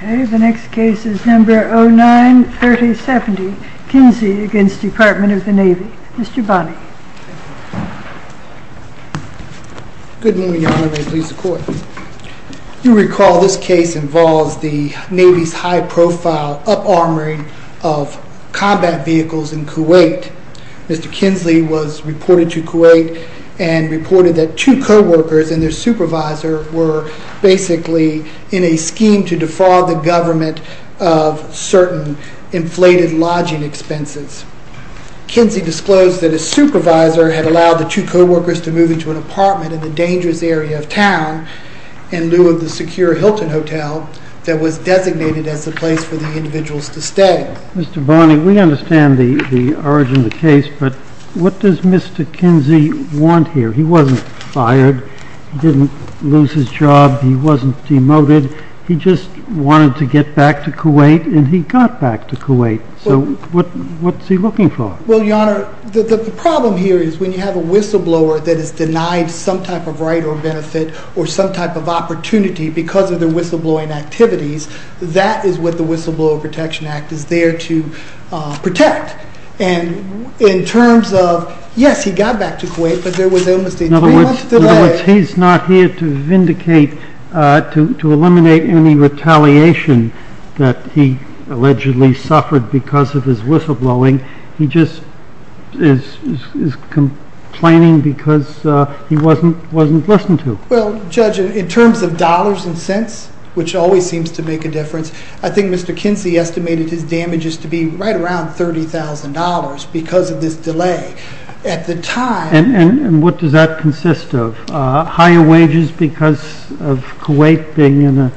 The next case is number 09-3070, Kinsey against the Department of the Navy. Mr. Bonney. Good morning, Your Honor. May it please the Court. You recall this case involves the Navy's high-profile up-armoring of combat vehicles in Kuwait. Mr. Kinsey was reported to Kuwait and reported that two co-workers and their supervisor were basically in a scheme to defraud the government of certain inflated lodging expenses. Kinsey disclosed that his supervisor had allowed the two co-workers to move into an apartment in a dangerous area of town in lieu of the secure Hilton Hotel that was designated as the place for the individuals to stay. Mr. Bonney, we understand the origin of the case, but what does Mr. Kinsey want here? He wasn't fired. He didn't lose his job. He wasn't demoted. He just wanted to get back to Kuwait, and he got back to Kuwait. So what's he looking for? Well, Your Honor, the problem here is when you have a whistleblower that is denied some type of right or benefit or some type of opportunity because of their whistleblowing activities, that is what the Whistleblower Protection Act is there to protect. In terms of, yes, he got back to Kuwait, but there was illness there three months later. In other words, he's not here to vindicate, to eliminate any retaliation that he allegedly suffered because of his whistleblowing. He just is complaining because he wasn't listened to. Well, Judge, in terms of dollars and cents, which always seems to make a difference, I think Mr. Kinsey estimated his damages to be right around $30,000 because of this delay. At the time... And what does that consist of? Higher wages because of Kuwait being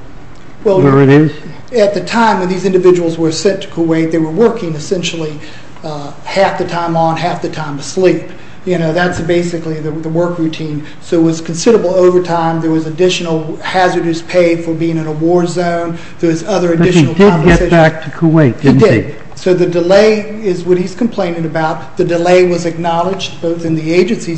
where it is? At the time when these individuals were sent to Kuwait, they were working essentially half the time on, half the time asleep. That's basically the work routine. So it was considerable overtime. There was additional hazardous pay for being in a war zone. There was other additional compensation. But he did get back to Kuwait, didn't he? So the question ultimately is whether the agency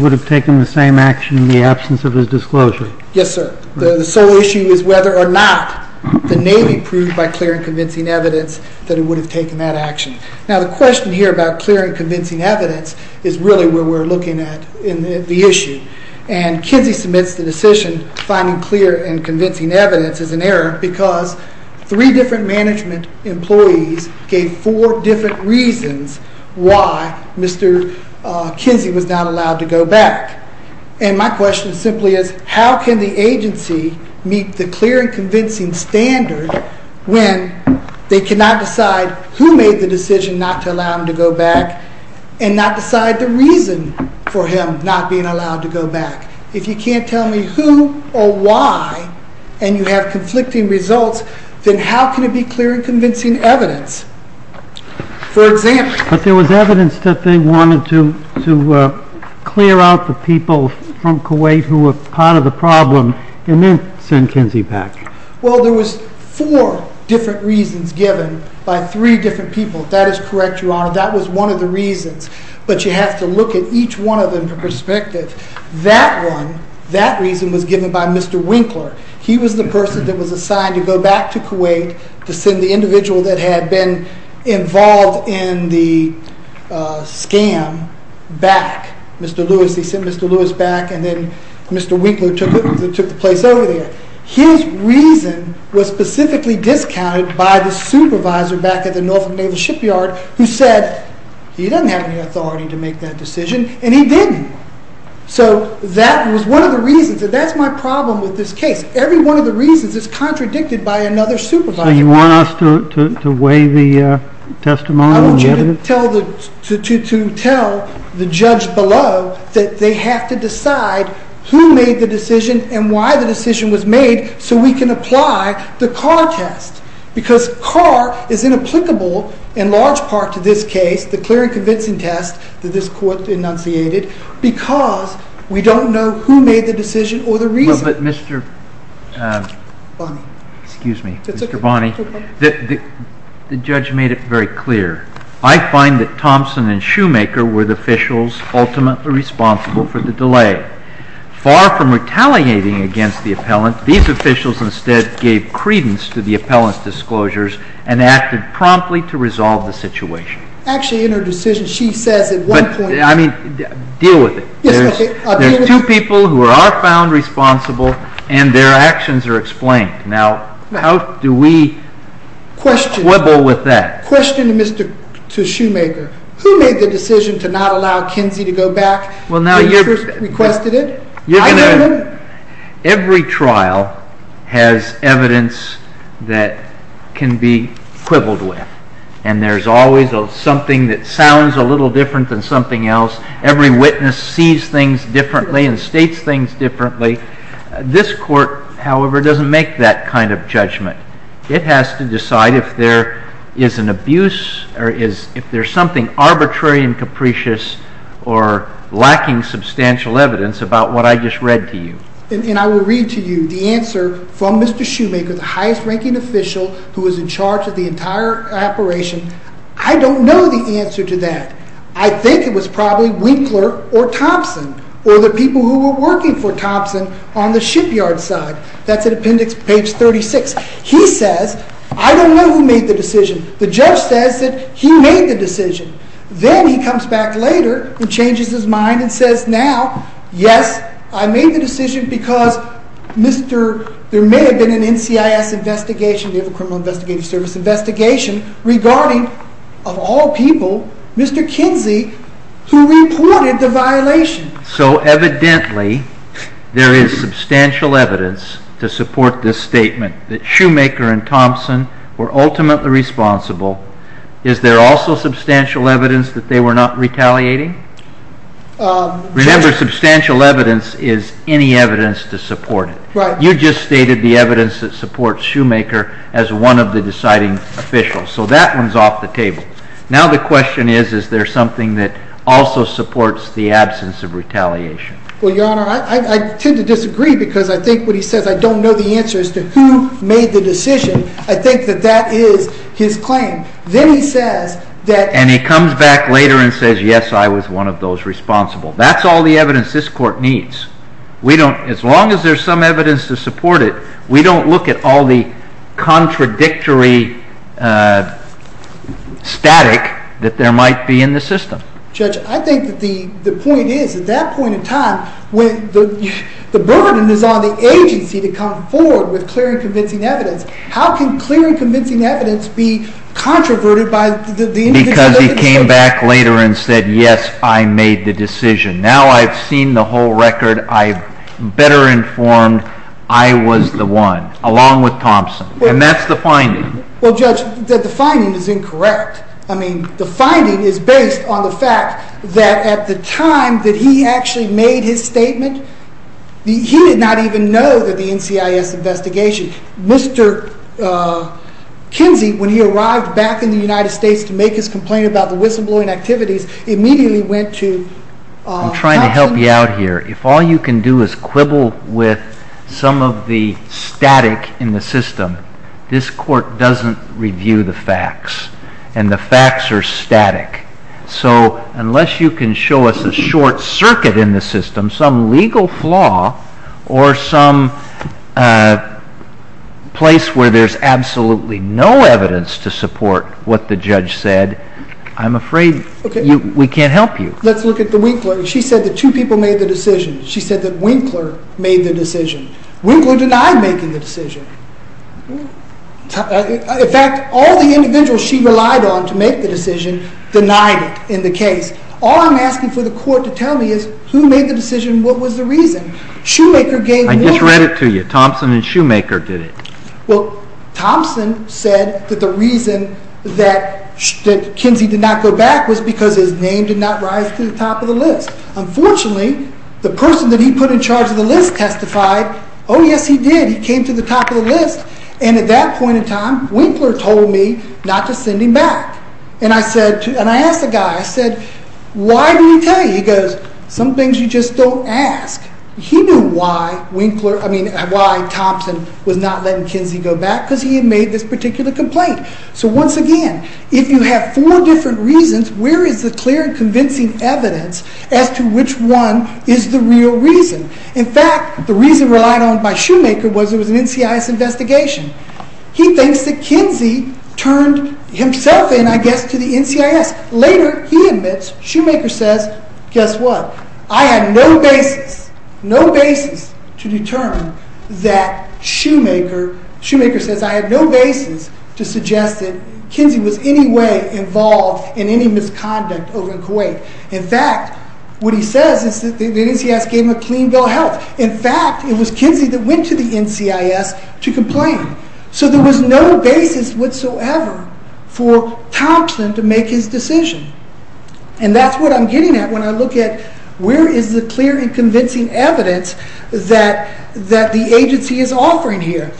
would have taken the same action in the absence of his disclosure. Yes, sir. The sole issue is whether or not the Navy proved by clear and convincing evidence that it would have taken that action. Now, the question here about clear and convincing evidence is really where we're looking at in the issue. And Kinsey submits the decision finding clear and convincing evidence as an error because three different management employees gave four different reasons why Mr. Kinsey was not allowed to go back. And my question simply is, how can the agency meet the clear and convincing standard when they cannot decide who made the decision not to allow him to go back and not decide the reason for him not being allowed to go back? If you can't tell me who or why and you have conflicting results, then how can it be clear and convincing evidence? But there was evidence that they wanted to clear out the people from Kuwait who were part of the problem and then send Kinsey back. Well, there was four different reasons given by three different people. That is correct, Your Honor. That was one of the reasons. But you have to look at each one of them for perspective. That reason was given by Mr. Winkler. He was the person that was assigned to go back to Kuwait to send the individual that had been involved in the scam back, Mr. Lewis. They sent Mr. Lewis back and then Mr. Winkler took the place over there. His reason was specifically discounted by the supervisor back at the Norfolk Naval Shipyard who said he doesn't have any authority to make that decision, and he didn't. So that was one of the reasons, and that's my problem with this case. Every one of the reasons is contradicted by another supervisor. So you want us to weigh the testimony? I want you to tell the judge below that they have to decide who made the decision and why the decision was made so we can apply the Carr test. Because Carr is inapplicable in large part to this case, the clear and convincing test that this court enunciated, because we don't know who made the decision or the reason. But Mr. Bonney, the judge made it very clear. I find that Thompson and Shoemaker were the officials ultimately responsible for the delay. Far from retaliating against the appellant, these officials instead gave credence to the appellant's disclosures and acted promptly to resolve the situation. Actually, in her decision, she says at one point I mean, deal with it. There are two people who are found responsible and their actions are explained. Now, how do we quibble with that? Question to Shoemaker. Who made the decision to not allow Kinsey to go back? Every trial has evidence that can be quibbled with. And there's always something that sounds a little different than something else. Every witness sees things differently and states things differently. This court, however, doesn't make that kind of judgment. It has to decide if there is an abuse or if there's something arbitrary and capricious or lacking substantial evidence about what I just read to you. And I will read to you the answer from Mr. Shoemaker, the highest ranking official who was in charge of the entire operation. I don't know the answer to that. I think it was probably Winkler or Thompson or the people who were working for Thompson on the shipyard side. That's at appendix page 36. He says, I don't know who made the decision. The judge says that he made the decision. Then he comes back later and changes his mind and says, now, yes, I made the decision because there may have been an NCIS investigation, the Criminal Investigative Service investigation, regarding, of all people, Mr. Kinsey, who reported the violation. So evidently, there is substantial evidence to support this statement that Shoemaker and Thompson were ultimately responsible. Is there also substantial evidence that they were not retaliating? Remember, substantial evidence is any evidence to support it. You just stated the evidence that supports Shoemaker as one of the deciding officials. So that one's off the table. Now the question is, is there something that also supports the absence of retaliation? Well, Your Honor, I tend to disagree because I think what he says, I don't know the answer as to who made the decision. I think that that is his claim. Then he says that— And he comes back later and says, yes, I was one of those responsible. That's all the evidence this Court needs. As long as there's some evidence to support it, we don't look at all the contradictory static that there might be in the system. Judge, I think that the point is, at that point in time, the burden is on the agency to come forward with clear and convincing evidence. How can clear and convincing evidence be controverted by the individual in the case? Because he came back later and said, yes, I made the decision. Now I've seen the whole record. I'm better informed. I was the one, along with Thompson. And that's the finding. Well, Judge, the finding is incorrect. I mean, the finding is based on the fact that at the time that he actually made his statement, he did not even know that the NCIS investigation— Mr. Kinsey, when he arrived back in the United States to make his complaint about the whistleblowing activities, he immediately went to Thompson. I'm trying to help you out here. If all you can do is quibble with some of the static in the system, this Court doesn't review the facts, and the facts are static. So unless you can show us a short circuit in the system, some legal flaw, or some place where there's absolutely no evidence to support what the judge said, I'm afraid we can't help you. Let's look at the Winkler. She said that two people made the decision. She said that Winkler made the decision. Winkler denied making the decision. In fact, all the individuals she relied on to make the decision denied it in the case. All I'm asking for the Court to tell me is who made the decision and what was the reason. Shoemaker gave— I just read it to you. Thompson and Shoemaker did it. Well, Thompson said that the reason that Kinsey did not go back was because his name did not rise to the top of the list. Unfortunately, the person that he put in charge of the list testified, oh, yes, he did. He came to the top of the list. And at that point in time, Winkler told me not to send him back. And I asked the guy, I said, why did he tell you? He goes, some things you just don't ask. He knew why Thompson was not letting Kinsey go back, because he had made this particular complaint. So once again, if you have four different reasons, where is the clear and convincing evidence as to which one is the real reason? In fact, the reason relied on by Shoemaker was it was an NCIS investigation. He thinks that Kinsey turned himself in, I guess, to the NCIS. Later, he admits, Shoemaker says, guess what? I had no basis, no basis to determine that Shoemaker— Shoemaker says I had no basis to suggest that Kinsey was in any way involved in any misconduct over in Kuwait. In fact, what he says is that the NCIS gave him a clean bill of health. In fact, it was Kinsey that went to the NCIS to complain. So there was no basis whatsoever for Thompson to make his decision. And that's what I'm getting at when I look at where is the clear and convincing evidence that the agency is offering here.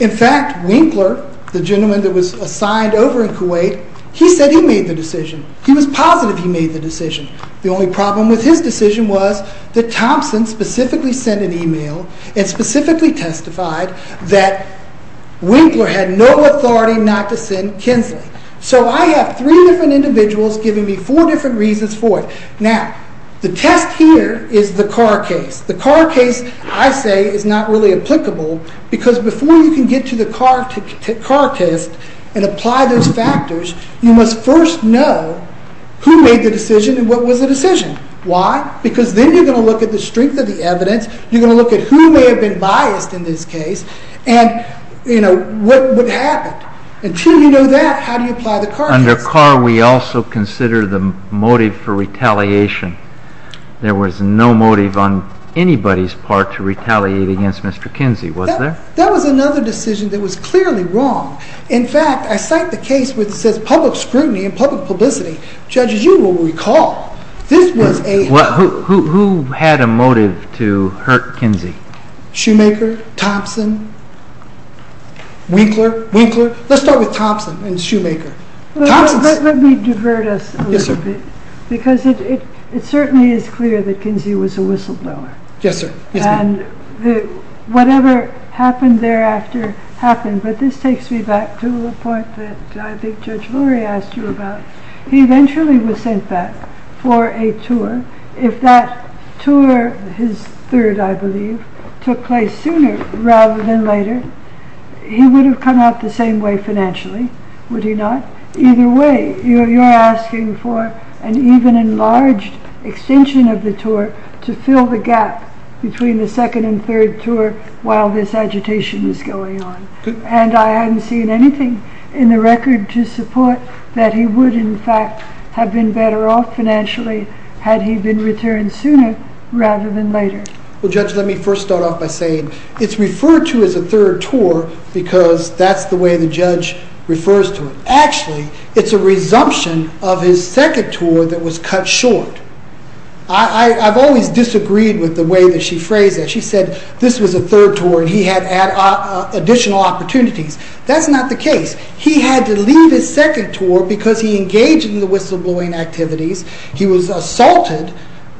In fact, Winkler, the gentleman that was assigned over in Kuwait, he said he made the decision. He was positive he made the decision. The only problem with his decision was that Thompson specifically sent an email and specifically testified that Winkler had no authority not to send Kinsey. So I have three different individuals giving me four different reasons for it. Now, the test here is the Carr case. The Carr case, I say, is not really applicable because before you can get to the Carr test and apply those factors, you must first know who made the decision and what was the decision. Why? Because then you're going to look at the strength of the evidence. You're going to look at who may have been biased in this case and, you know, what happened. Until you know that, how do you apply the Carr test? Under Carr, we also consider the motive for retaliation. There was no motive on anybody's part to retaliate against Mr. Kinsey, was there? That was another decision that was clearly wrong. In fact, I cite the case where it says public scrutiny and public publicity. Judges, you will recall this was a- Who had a motive to hurt Kinsey? Shoemaker, Thompson, Winkler, Winkler. Let's start with Thompson and Shoemaker. Let me divert us a little bit because it certainly is clear that Kinsey was a whistleblower. Yes, sir. And whatever happened thereafter happened. But this takes me back to the point that I think Judge Lurie asked you about. He eventually was sent back for a tour. If that tour, his third, I believe, took place sooner rather than later, he would have come out the same way financially, would he not? Either way, you're asking for an even enlarged extension of the tour to fill the gap between the second and third tour while this agitation is going on. And I haven't seen anything in the record to support that he would, in fact, have been better off financially had he been returned sooner rather than later. Well, Judge, let me first start off by saying it's referred to as a third tour because that's the way the judge refers to it. Actually, it's a resumption of his second tour that was cut short. I've always disagreed with the way that she phrased that. She said this was a third tour and he had additional opportunities. That's not the case. He had to leave his second tour because he engaged in the whistleblowing activities. He was assaulted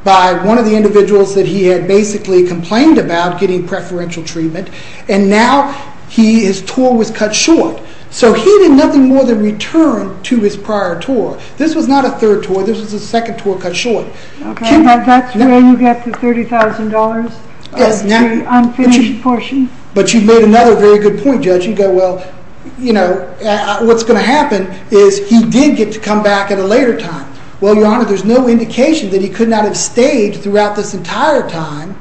by one of the individuals that he had basically complained about getting preferential treatment, and now his tour was cut short. So he did nothing more than return to his prior tour. This was not a third tour. This was a second tour cut short. Okay, but that's where you get the $30,000, the unfinished portion. But you made another very good point, Judge. You go, well, you know, what's going to happen is he did get to come back at a later time. Well, Your Honor, there's no indication that he could not have stayed throughout this entire time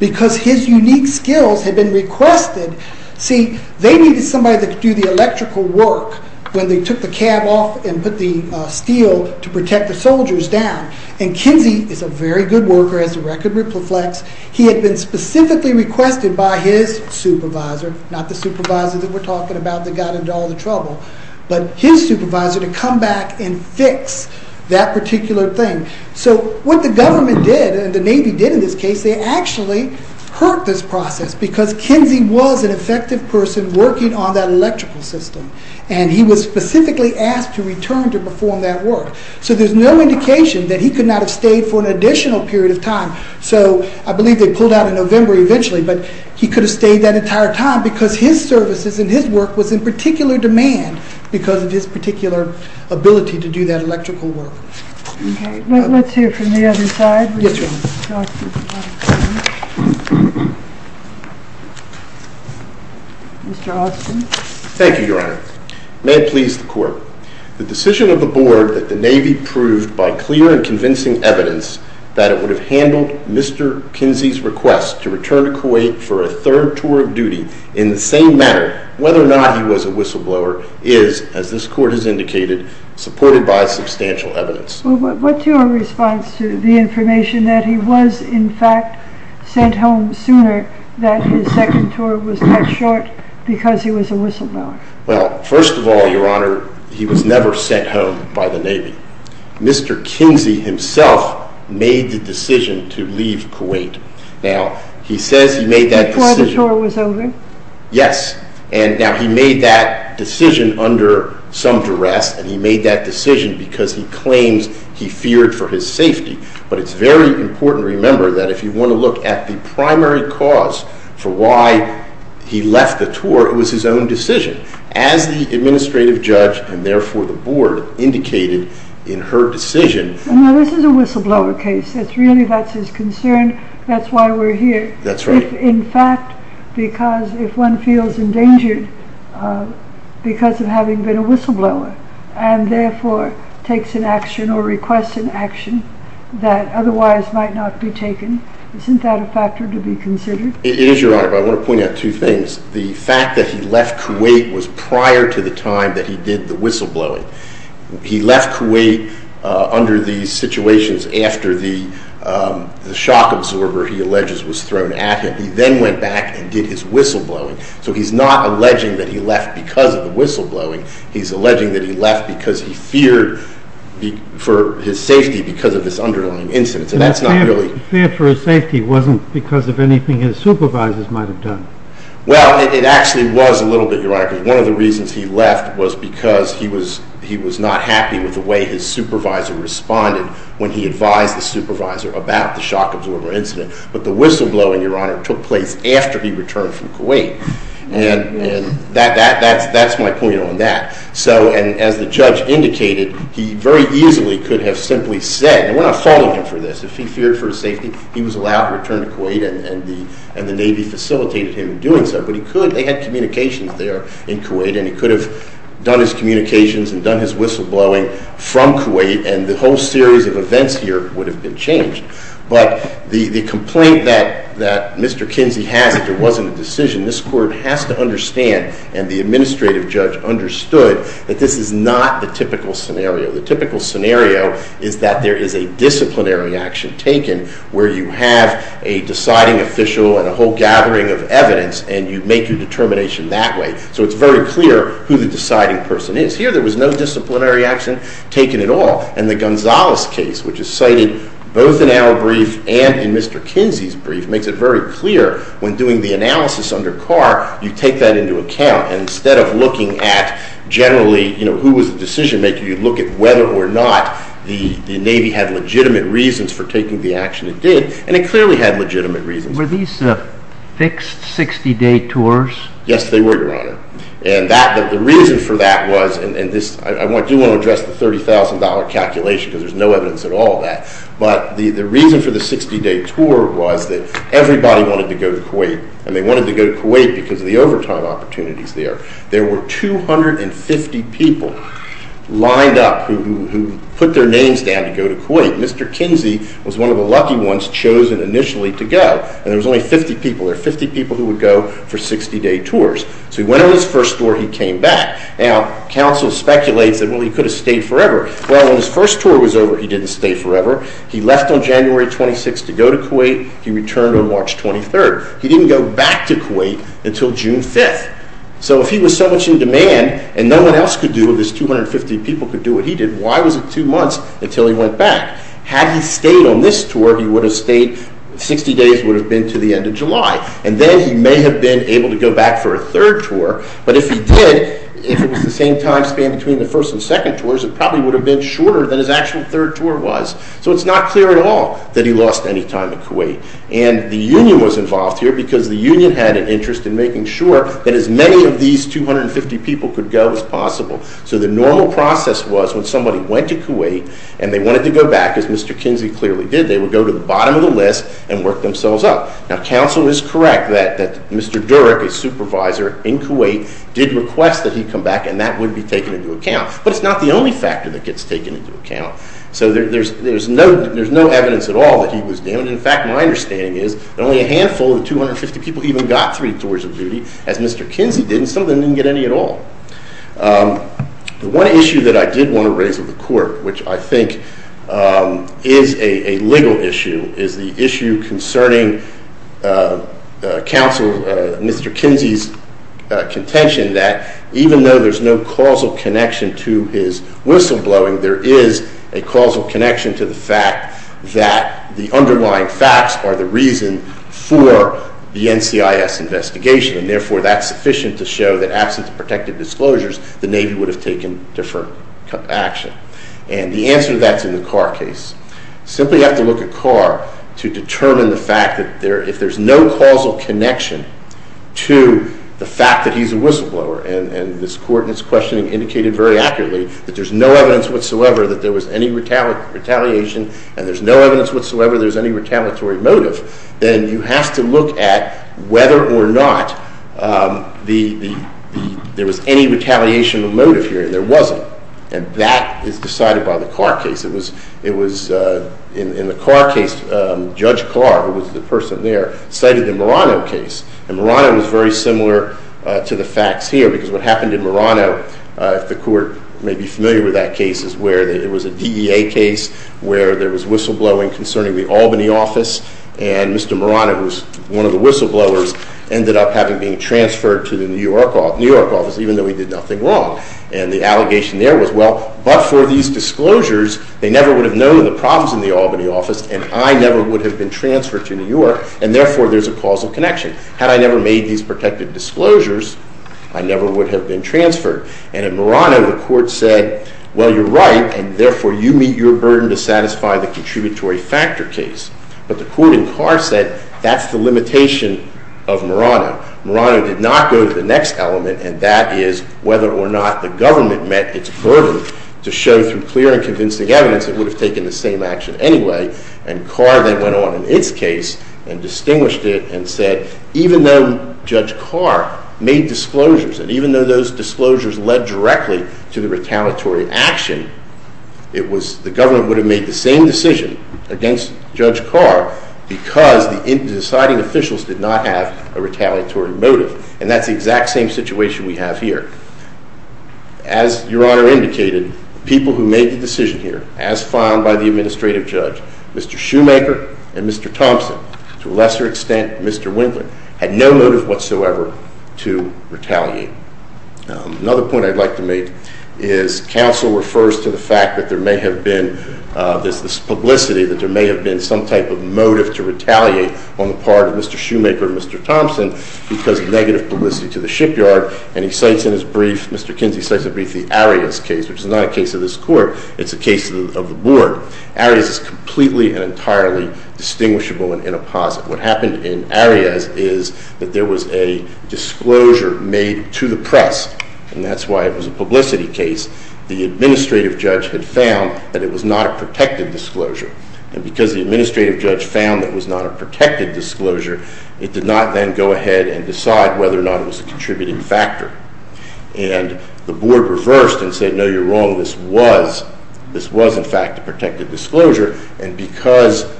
because his unique skills had been requested. See, they needed somebody that could do the electrical work when they took the cab off and put the steel to protect the soldiers down, and Kinsey is a very good worker as the record reflects. He had been specifically requested by his supervisor, not the supervisor that we're talking about that got into all the trouble, but his supervisor to come back and fix that particular thing. So what the government did and the Navy did in this case, they actually hurt this process because Kinsey was an effective person who was working on that electrical system, and he was specifically asked to return to perform that work. So there's no indication that he could not have stayed for an additional period of time. So I believe they pulled out in November eventually, but he could have stayed that entire time because his services and his work was in particular demand because of his particular ability to do that electrical work. Let's hear from the other side. Mr. Austin. Thank you, Your Honor. May it please the Court. The decision of the Board that the Navy proved by clear and convincing evidence that it would have handled Mr. Kinsey's request to return to Kuwait for a third tour of duty in the same manner, whether or not he was a whistleblower, is, as this Court has indicated, supported by substantial evidence. What's your response to the information that he was, in fact, sent home sooner, that his second tour was cut short because he was a whistleblower? Well, first of all, Your Honor, he was never sent home by the Navy. Mr. Kinsey himself made the decision to leave Kuwait. Now, he says he made that decision... Before the tour was over? Yes. Now, he made that decision under some duress, and he made that decision because he claims he feared for his safety. But it's very important to remember that if you want to look at the primary cause for why he left the tour, it was his own decision. As the administrative judge, and therefore the Board, indicated in her decision... Now, this is a whistleblower case. Really, that's his concern. That's why we're here. That's right. If, in fact, because if one feels endangered because of having been a whistleblower and therefore takes an action or requests an action that otherwise might not be taken, isn't that a factor to be considered? It is, Your Honor, but I want to point out two things. The fact that he left Kuwait was prior to the time that he did the whistleblowing. He left Kuwait under the situations after the shock absorber, he alleges, was thrown at him. He then went back and did his whistleblowing. So he's not alleging that he left because of the whistleblowing. He's alleging that he left because he feared for his safety because of this underlying incident. So that's not really... The fear for his safety wasn't because of anything his supervisors might have done. Well, it actually was a little bit, Your Honor, because one of the reasons he left was because he was not happy with the way his supervisor responded when he advised the supervisor about the shock absorber incident. But the whistleblowing, Your Honor, took place after he returned from Kuwait. And that's my point on that. So as the judge indicated, he very easily could have simply said, and we're not holding him for this, if he feared for his safety, he was allowed to return to Kuwait and the Navy facilitated him in doing so. But he could, they had communications there in Kuwait, and he could have done his communications and done his whistleblowing from Kuwait, and the whole series of events here would have been changed. But the complaint that Mr. Kinsey has that there wasn't a decision, this Court has to understand, and the administrative judge understood, that this is not the typical scenario. The typical scenario is that there is a disciplinary action taken where you have a deciding official and a whole gathering of evidence, and you make your determination that way. So it's very clear who the deciding person is. Here there was no disciplinary action taken at all. And the Gonzales case, which is cited both in our brief and in Mr. Kinsey's brief, makes it very clear when doing the analysis under Carr, you take that into account. And instead of looking at generally, you know, who was the decision maker, you look at whether or not the Navy had legitimate reasons for taking the action it did, and it clearly had legitimate reasons. Were these fixed 60-day tours? Yes, they were, Your Honor. And the reason for that was, and I do want to address the $30,000 calculation because there's no evidence at all of that, but the reason for the 60-day tour was that everybody wanted to go to Kuwait, and they wanted to go to Kuwait because of the overtime opportunities there. There were 250 people lined up who put their names down to go to Kuwait. Mr. Kinsey was one of the lucky ones chosen initially to go. And there was only 50 people. There were 50 people who would go for 60-day tours. So he went on his first tour. He came back. Now, counsel speculates that, well, he could have stayed forever. Well, when his first tour was over, he didn't stay forever. He left on January 26th to go to Kuwait. He returned on March 23rd. He didn't go back to Kuwait until June 5th. So if he was so much in demand and no one else could do it, if this 250 people could do what he did, why was it two months until he went back? Had he stayed on this tour, 60 days would have been to the end of July, and then he may have been able to go back for a third tour. But if he did, if it was the same time span between the first and second tours, it probably would have been shorter than his actual third tour was. So it's not clear at all that he lost any time in Kuwait. And the union was involved here because the union had an interest in making sure that as many of these 250 people could go as possible so the normal process was when somebody went to Kuwait and they wanted to go back, as Mr. Kinsey clearly did, they would go to the bottom of the list and work themselves up. Now, counsel is correct that Mr. Durek, a supervisor in Kuwait, did request that he come back, and that would be taken into account. But it's not the only factor that gets taken into account. So there's no evidence at all that he was damaged. In fact, my understanding is that only a handful of the 250 people even got three tours of duty, as Mr. Kinsey did, and some of them didn't get any at all. The one issue that I did want to raise with the court, which I think is a legal issue, is the issue concerning counsel, Mr. Kinsey's contention that even though there's no causal connection to his whistleblowing, there is a causal connection to the fact that the underlying facts are the reason for the NCIS investigation, and therefore that's sufficient to show that, absent the protective disclosures, the Navy would have taken different action. And the answer to that's in the Carr case. Simply you have to look at Carr to determine the fact that if there's no causal connection to the fact that he's a whistleblower, and this court in its questioning indicated very accurately that there's no evidence whatsoever that there was any retaliation, and there's no evidence whatsoever there's any retaliatory motive, then you have to look at whether or not there was any retaliation motive here, and there wasn't, and that is decided by the Carr case. It was in the Carr case, Judge Carr, who was the person there, cited the Murano case, and Murano was very similar to the facts here because what happened in Murano, if the court may be familiar with that case, is where there was a DEA case where there was whistleblowing concerning the Albany office, and Mr. Murano, who was one of the whistleblowers, ended up having being transferred to the New York office, even though he did nothing wrong. And the allegation there was, well, but for these disclosures, they never would have known the problems in the Albany office, and I never would have been transferred to New York, and therefore there's a causal connection. Had I never made these protective disclosures, I never would have been transferred. And in Murano, the court said, well, you're right, and therefore you meet your burden to satisfy the contributory factor case. But the court in Carr said, that's the limitation of Murano. Murano did not go to the next element, and that is whether or not the government met its burden to show through clear and convincing evidence it would have taken the same action anyway. And Carr then went on in its case and distinguished it and said, even though Judge Carr made disclosures, and even though those disclosures led directly to the retaliatory action, the government would have made the same decision against Judge Carr because the deciding officials did not have a retaliatory motive. And that's the exact same situation we have here. As Your Honor indicated, people who made the decision here, as found by the administrative judge, Mr. Shoemaker and Mr. Thompson, to a lesser extent Mr. Winkler, had no motive whatsoever to retaliate. Another point I'd like to make is, counsel refers to the fact that there may have been this publicity, that there may have been some type of motive to retaliate on the part of Mr. Shoemaker and Mr. Thompson because of negative publicity to the shipyard, and he cites in his brief, Mr. Kinsey cites in his brief, the Arias case, which is not a case of this Court, it's a case of the Board. Arias is completely and entirely distinguishable and inapposite. What happened in Arias is that there was a disclosure made to the press, and that's why it was a publicity case. The administrative judge had found that it was not a protected disclosure. And because the administrative judge found that it was not a protected disclosure, it did not then go ahead and decide whether or not it was a contributing factor. And the Board reversed and said, no, you're wrong, this was in fact a protected disclosure, and because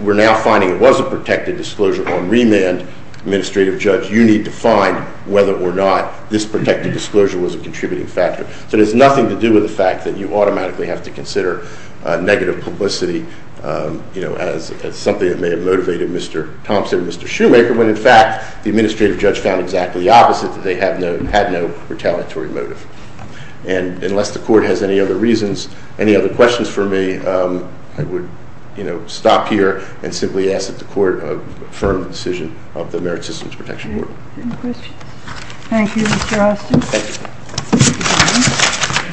we're now finding it was a protected disclosure on remand, administrative judge, you need to find whether or not this protected disclosure was a contributing factor. So it has nothing to do with the fact that you automatically have to consider negative publicity as something that may have motivated Mr. Thompson and Mr. Shoemaker, when in fact the administrative judge found exactly the opposite, that they had no retaliatory motive. And unless the Court has any other reasons, any other questions for me, I would stop here and simply ask that the Court affirm the decision of the Merit Systems Protection Board. Any questions? Thank you, Mr. Austin.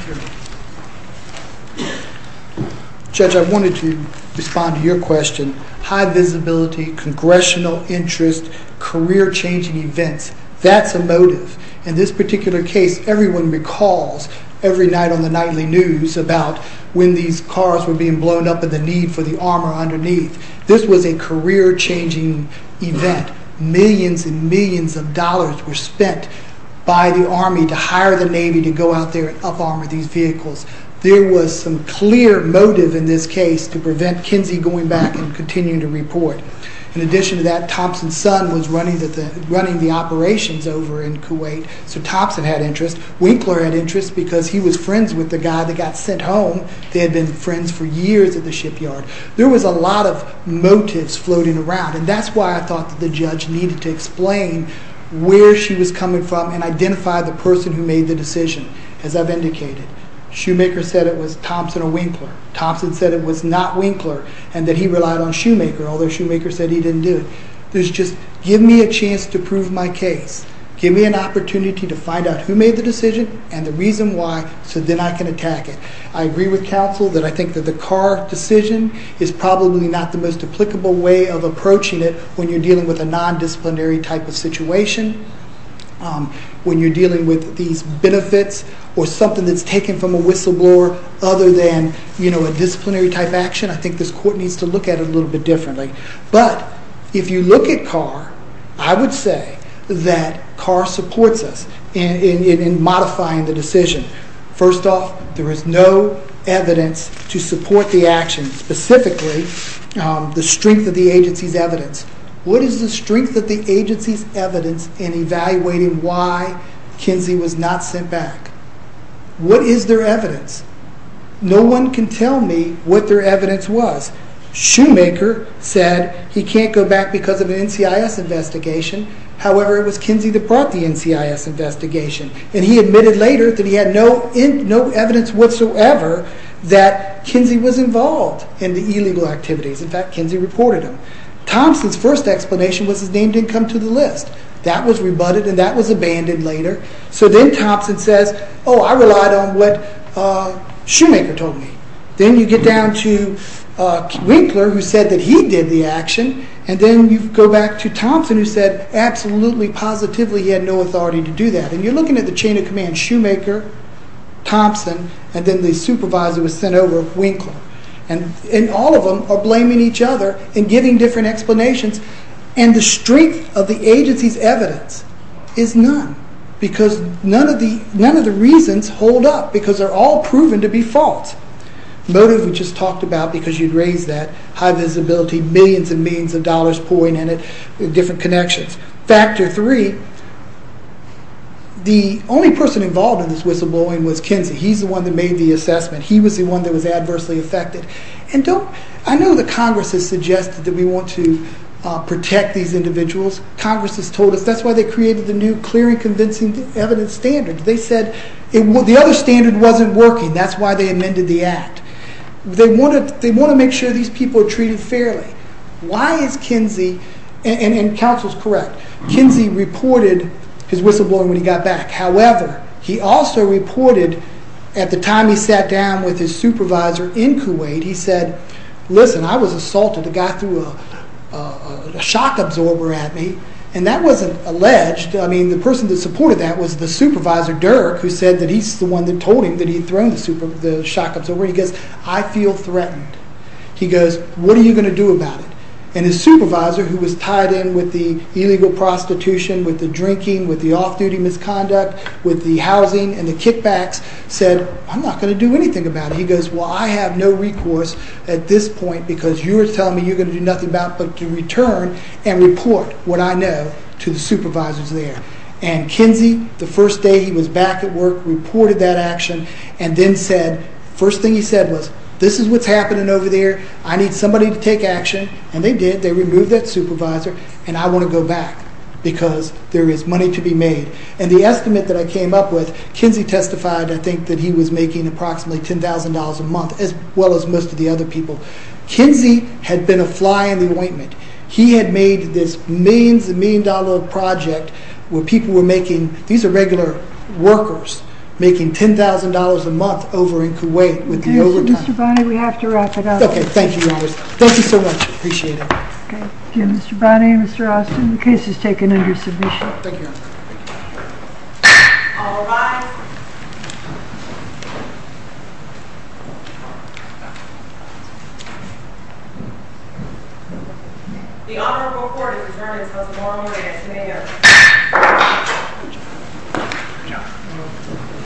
Thank you. Judge, I wanted to respond to your question. High visibility, congressional interest, career-changing events, that's a motive. In this particular case, everyone recalls every night on the nightly news about when these cars were being blown up and the need for the armor underneath. This was a career-changing event. Millions and millions of dollars were spent by the Army to hire the Navy to go out there and up-armor these vehicles. There was some clear motive in this case to prevent Kinsey going back and continuing to report. In addition to that, Thompson's son was running the operations over in Kuwait, so Thompson had interest. Winkler had interest because he was friends with the guy that got sent home. They had been friends for years at the shipyard. There was a lot of motives floating around, and that's why I thought that the judge needed to explain where she was coming from and identify the person who made the decision. As I've indicated, Shoemaker said it was Thompson or Winkler. Thompson said it was not Winkler and that he relied on Shoemaker, although Shoemaker said he didn't do it. There's just give me a chance to prove my case. Give me an opportunity to find out who made the decision and the reason why so then I can attack it. I agree with counsel that I think that the car decision is probably not the most applicable way of approaching it when you're dealing with a nondisciplinary type of situation. When you're dealing with these benefits or something that's taken from a whistleblower other than a disciplinary type action, I think this court needs to look at it a little bit differently. But if you look at Carr, I would say that Carr supports us in modifying the decision. First off, there is no evidence to support the action, specifically the strength of the agency's evidence. What is the strength of the agency's evidence in evaluating why Kinsey was not sent back? What is their evidence? No one can tell me what their evidence was. Shoemaker said he can't go back because of an NCIS investigation. However, it was Kinsey that brought the NCIS investigation. And he admitted later that he had no evidence whatsoever that Kinsey was involved in the illegal activities. In fact, Kinsey reported him. Thompson's first explanation was his name didn't come to the list. That was rebutted and that was abandoned later. So then Thompson says, oh, I relied on what Shoemaker told me. Then you get down to Winkler who said that he did the action. And then you go back to Thompson who said absolutely positively he had no authority to do that. And you're looking at the chain of command, Shoemaker, Thompson, and then the supervisor was sent over, Winkler. And all of them are blaming each other and giving different explanations. And the strength of the agency's evidence is none. Because none of the reasons hold up because they're all proven to be false. Motive we just talked about because you'd raise that. High visibility, millions and millions of dollars pouring in it, different connections. Factor three, the only person involved in this whistleblowing was Kinsey. He's the one that made the assessment. He was the one that was adversely affected. I know the Congress has suggested that we want to protect these individuals. Congress has told us that's why they created the new clear and convincing evidence standard. They said the other standard wasn't working. That's why they amended the act. They want to make sure these people are treated fairly. Why is Kinsey, and counsel's correct, Kinsey reported his whistleblowing when he got back. However, he also reported at the time he sat down with his supervisor in Kuwait, he said, listen, I was assaulted. A guy threw a shock absorber at me. And that wasn't alleged. I mean, the person that supported that was the supervisor, Dirk, who said that he's the one that told him that he'd thrown the shock absorber. He goes, I feel threatened. He goes, what are you going to do about it? And his supervisor, who was tied in with the illegal prostitution, with the drinking, with the off-duty misconduct, with the housing and the kickbacks, said, I'm not going to do anything about it. He goes, well, I have no recourse at this point because you're telling me you're going to do nothing about it but to return and report what I know to the supervisors there. And Kinsey, the first day he was back at work, reported that action and then said, first thing he said was, this is what's happening over there. I need somebody to take action. And they did. They removed that supervisor, and I want to go back because there is money to be made. And the estimate that I came up with, Kinsey testified, I think, that he was making approximately $10,000 a month, as well as most of the other people. Kinsey had been a fly in the ointment. He had made this millions and millions of dollars project where people were making – these are regular workers – making $10,000 a month over in Kuwait with the overtime. Mr. Bonney, we have to wrap it up. Okay. Thank you, Your Honors. Thank you so much. Appreciate it. Okay. Thank you, Mr. Bonney and Mr. Austin. The case is taken under submission. Thank you, Your Honor. Thank you. All rise. The Honorable Court has determined that Judge Morley is mayor. Good job. Good job.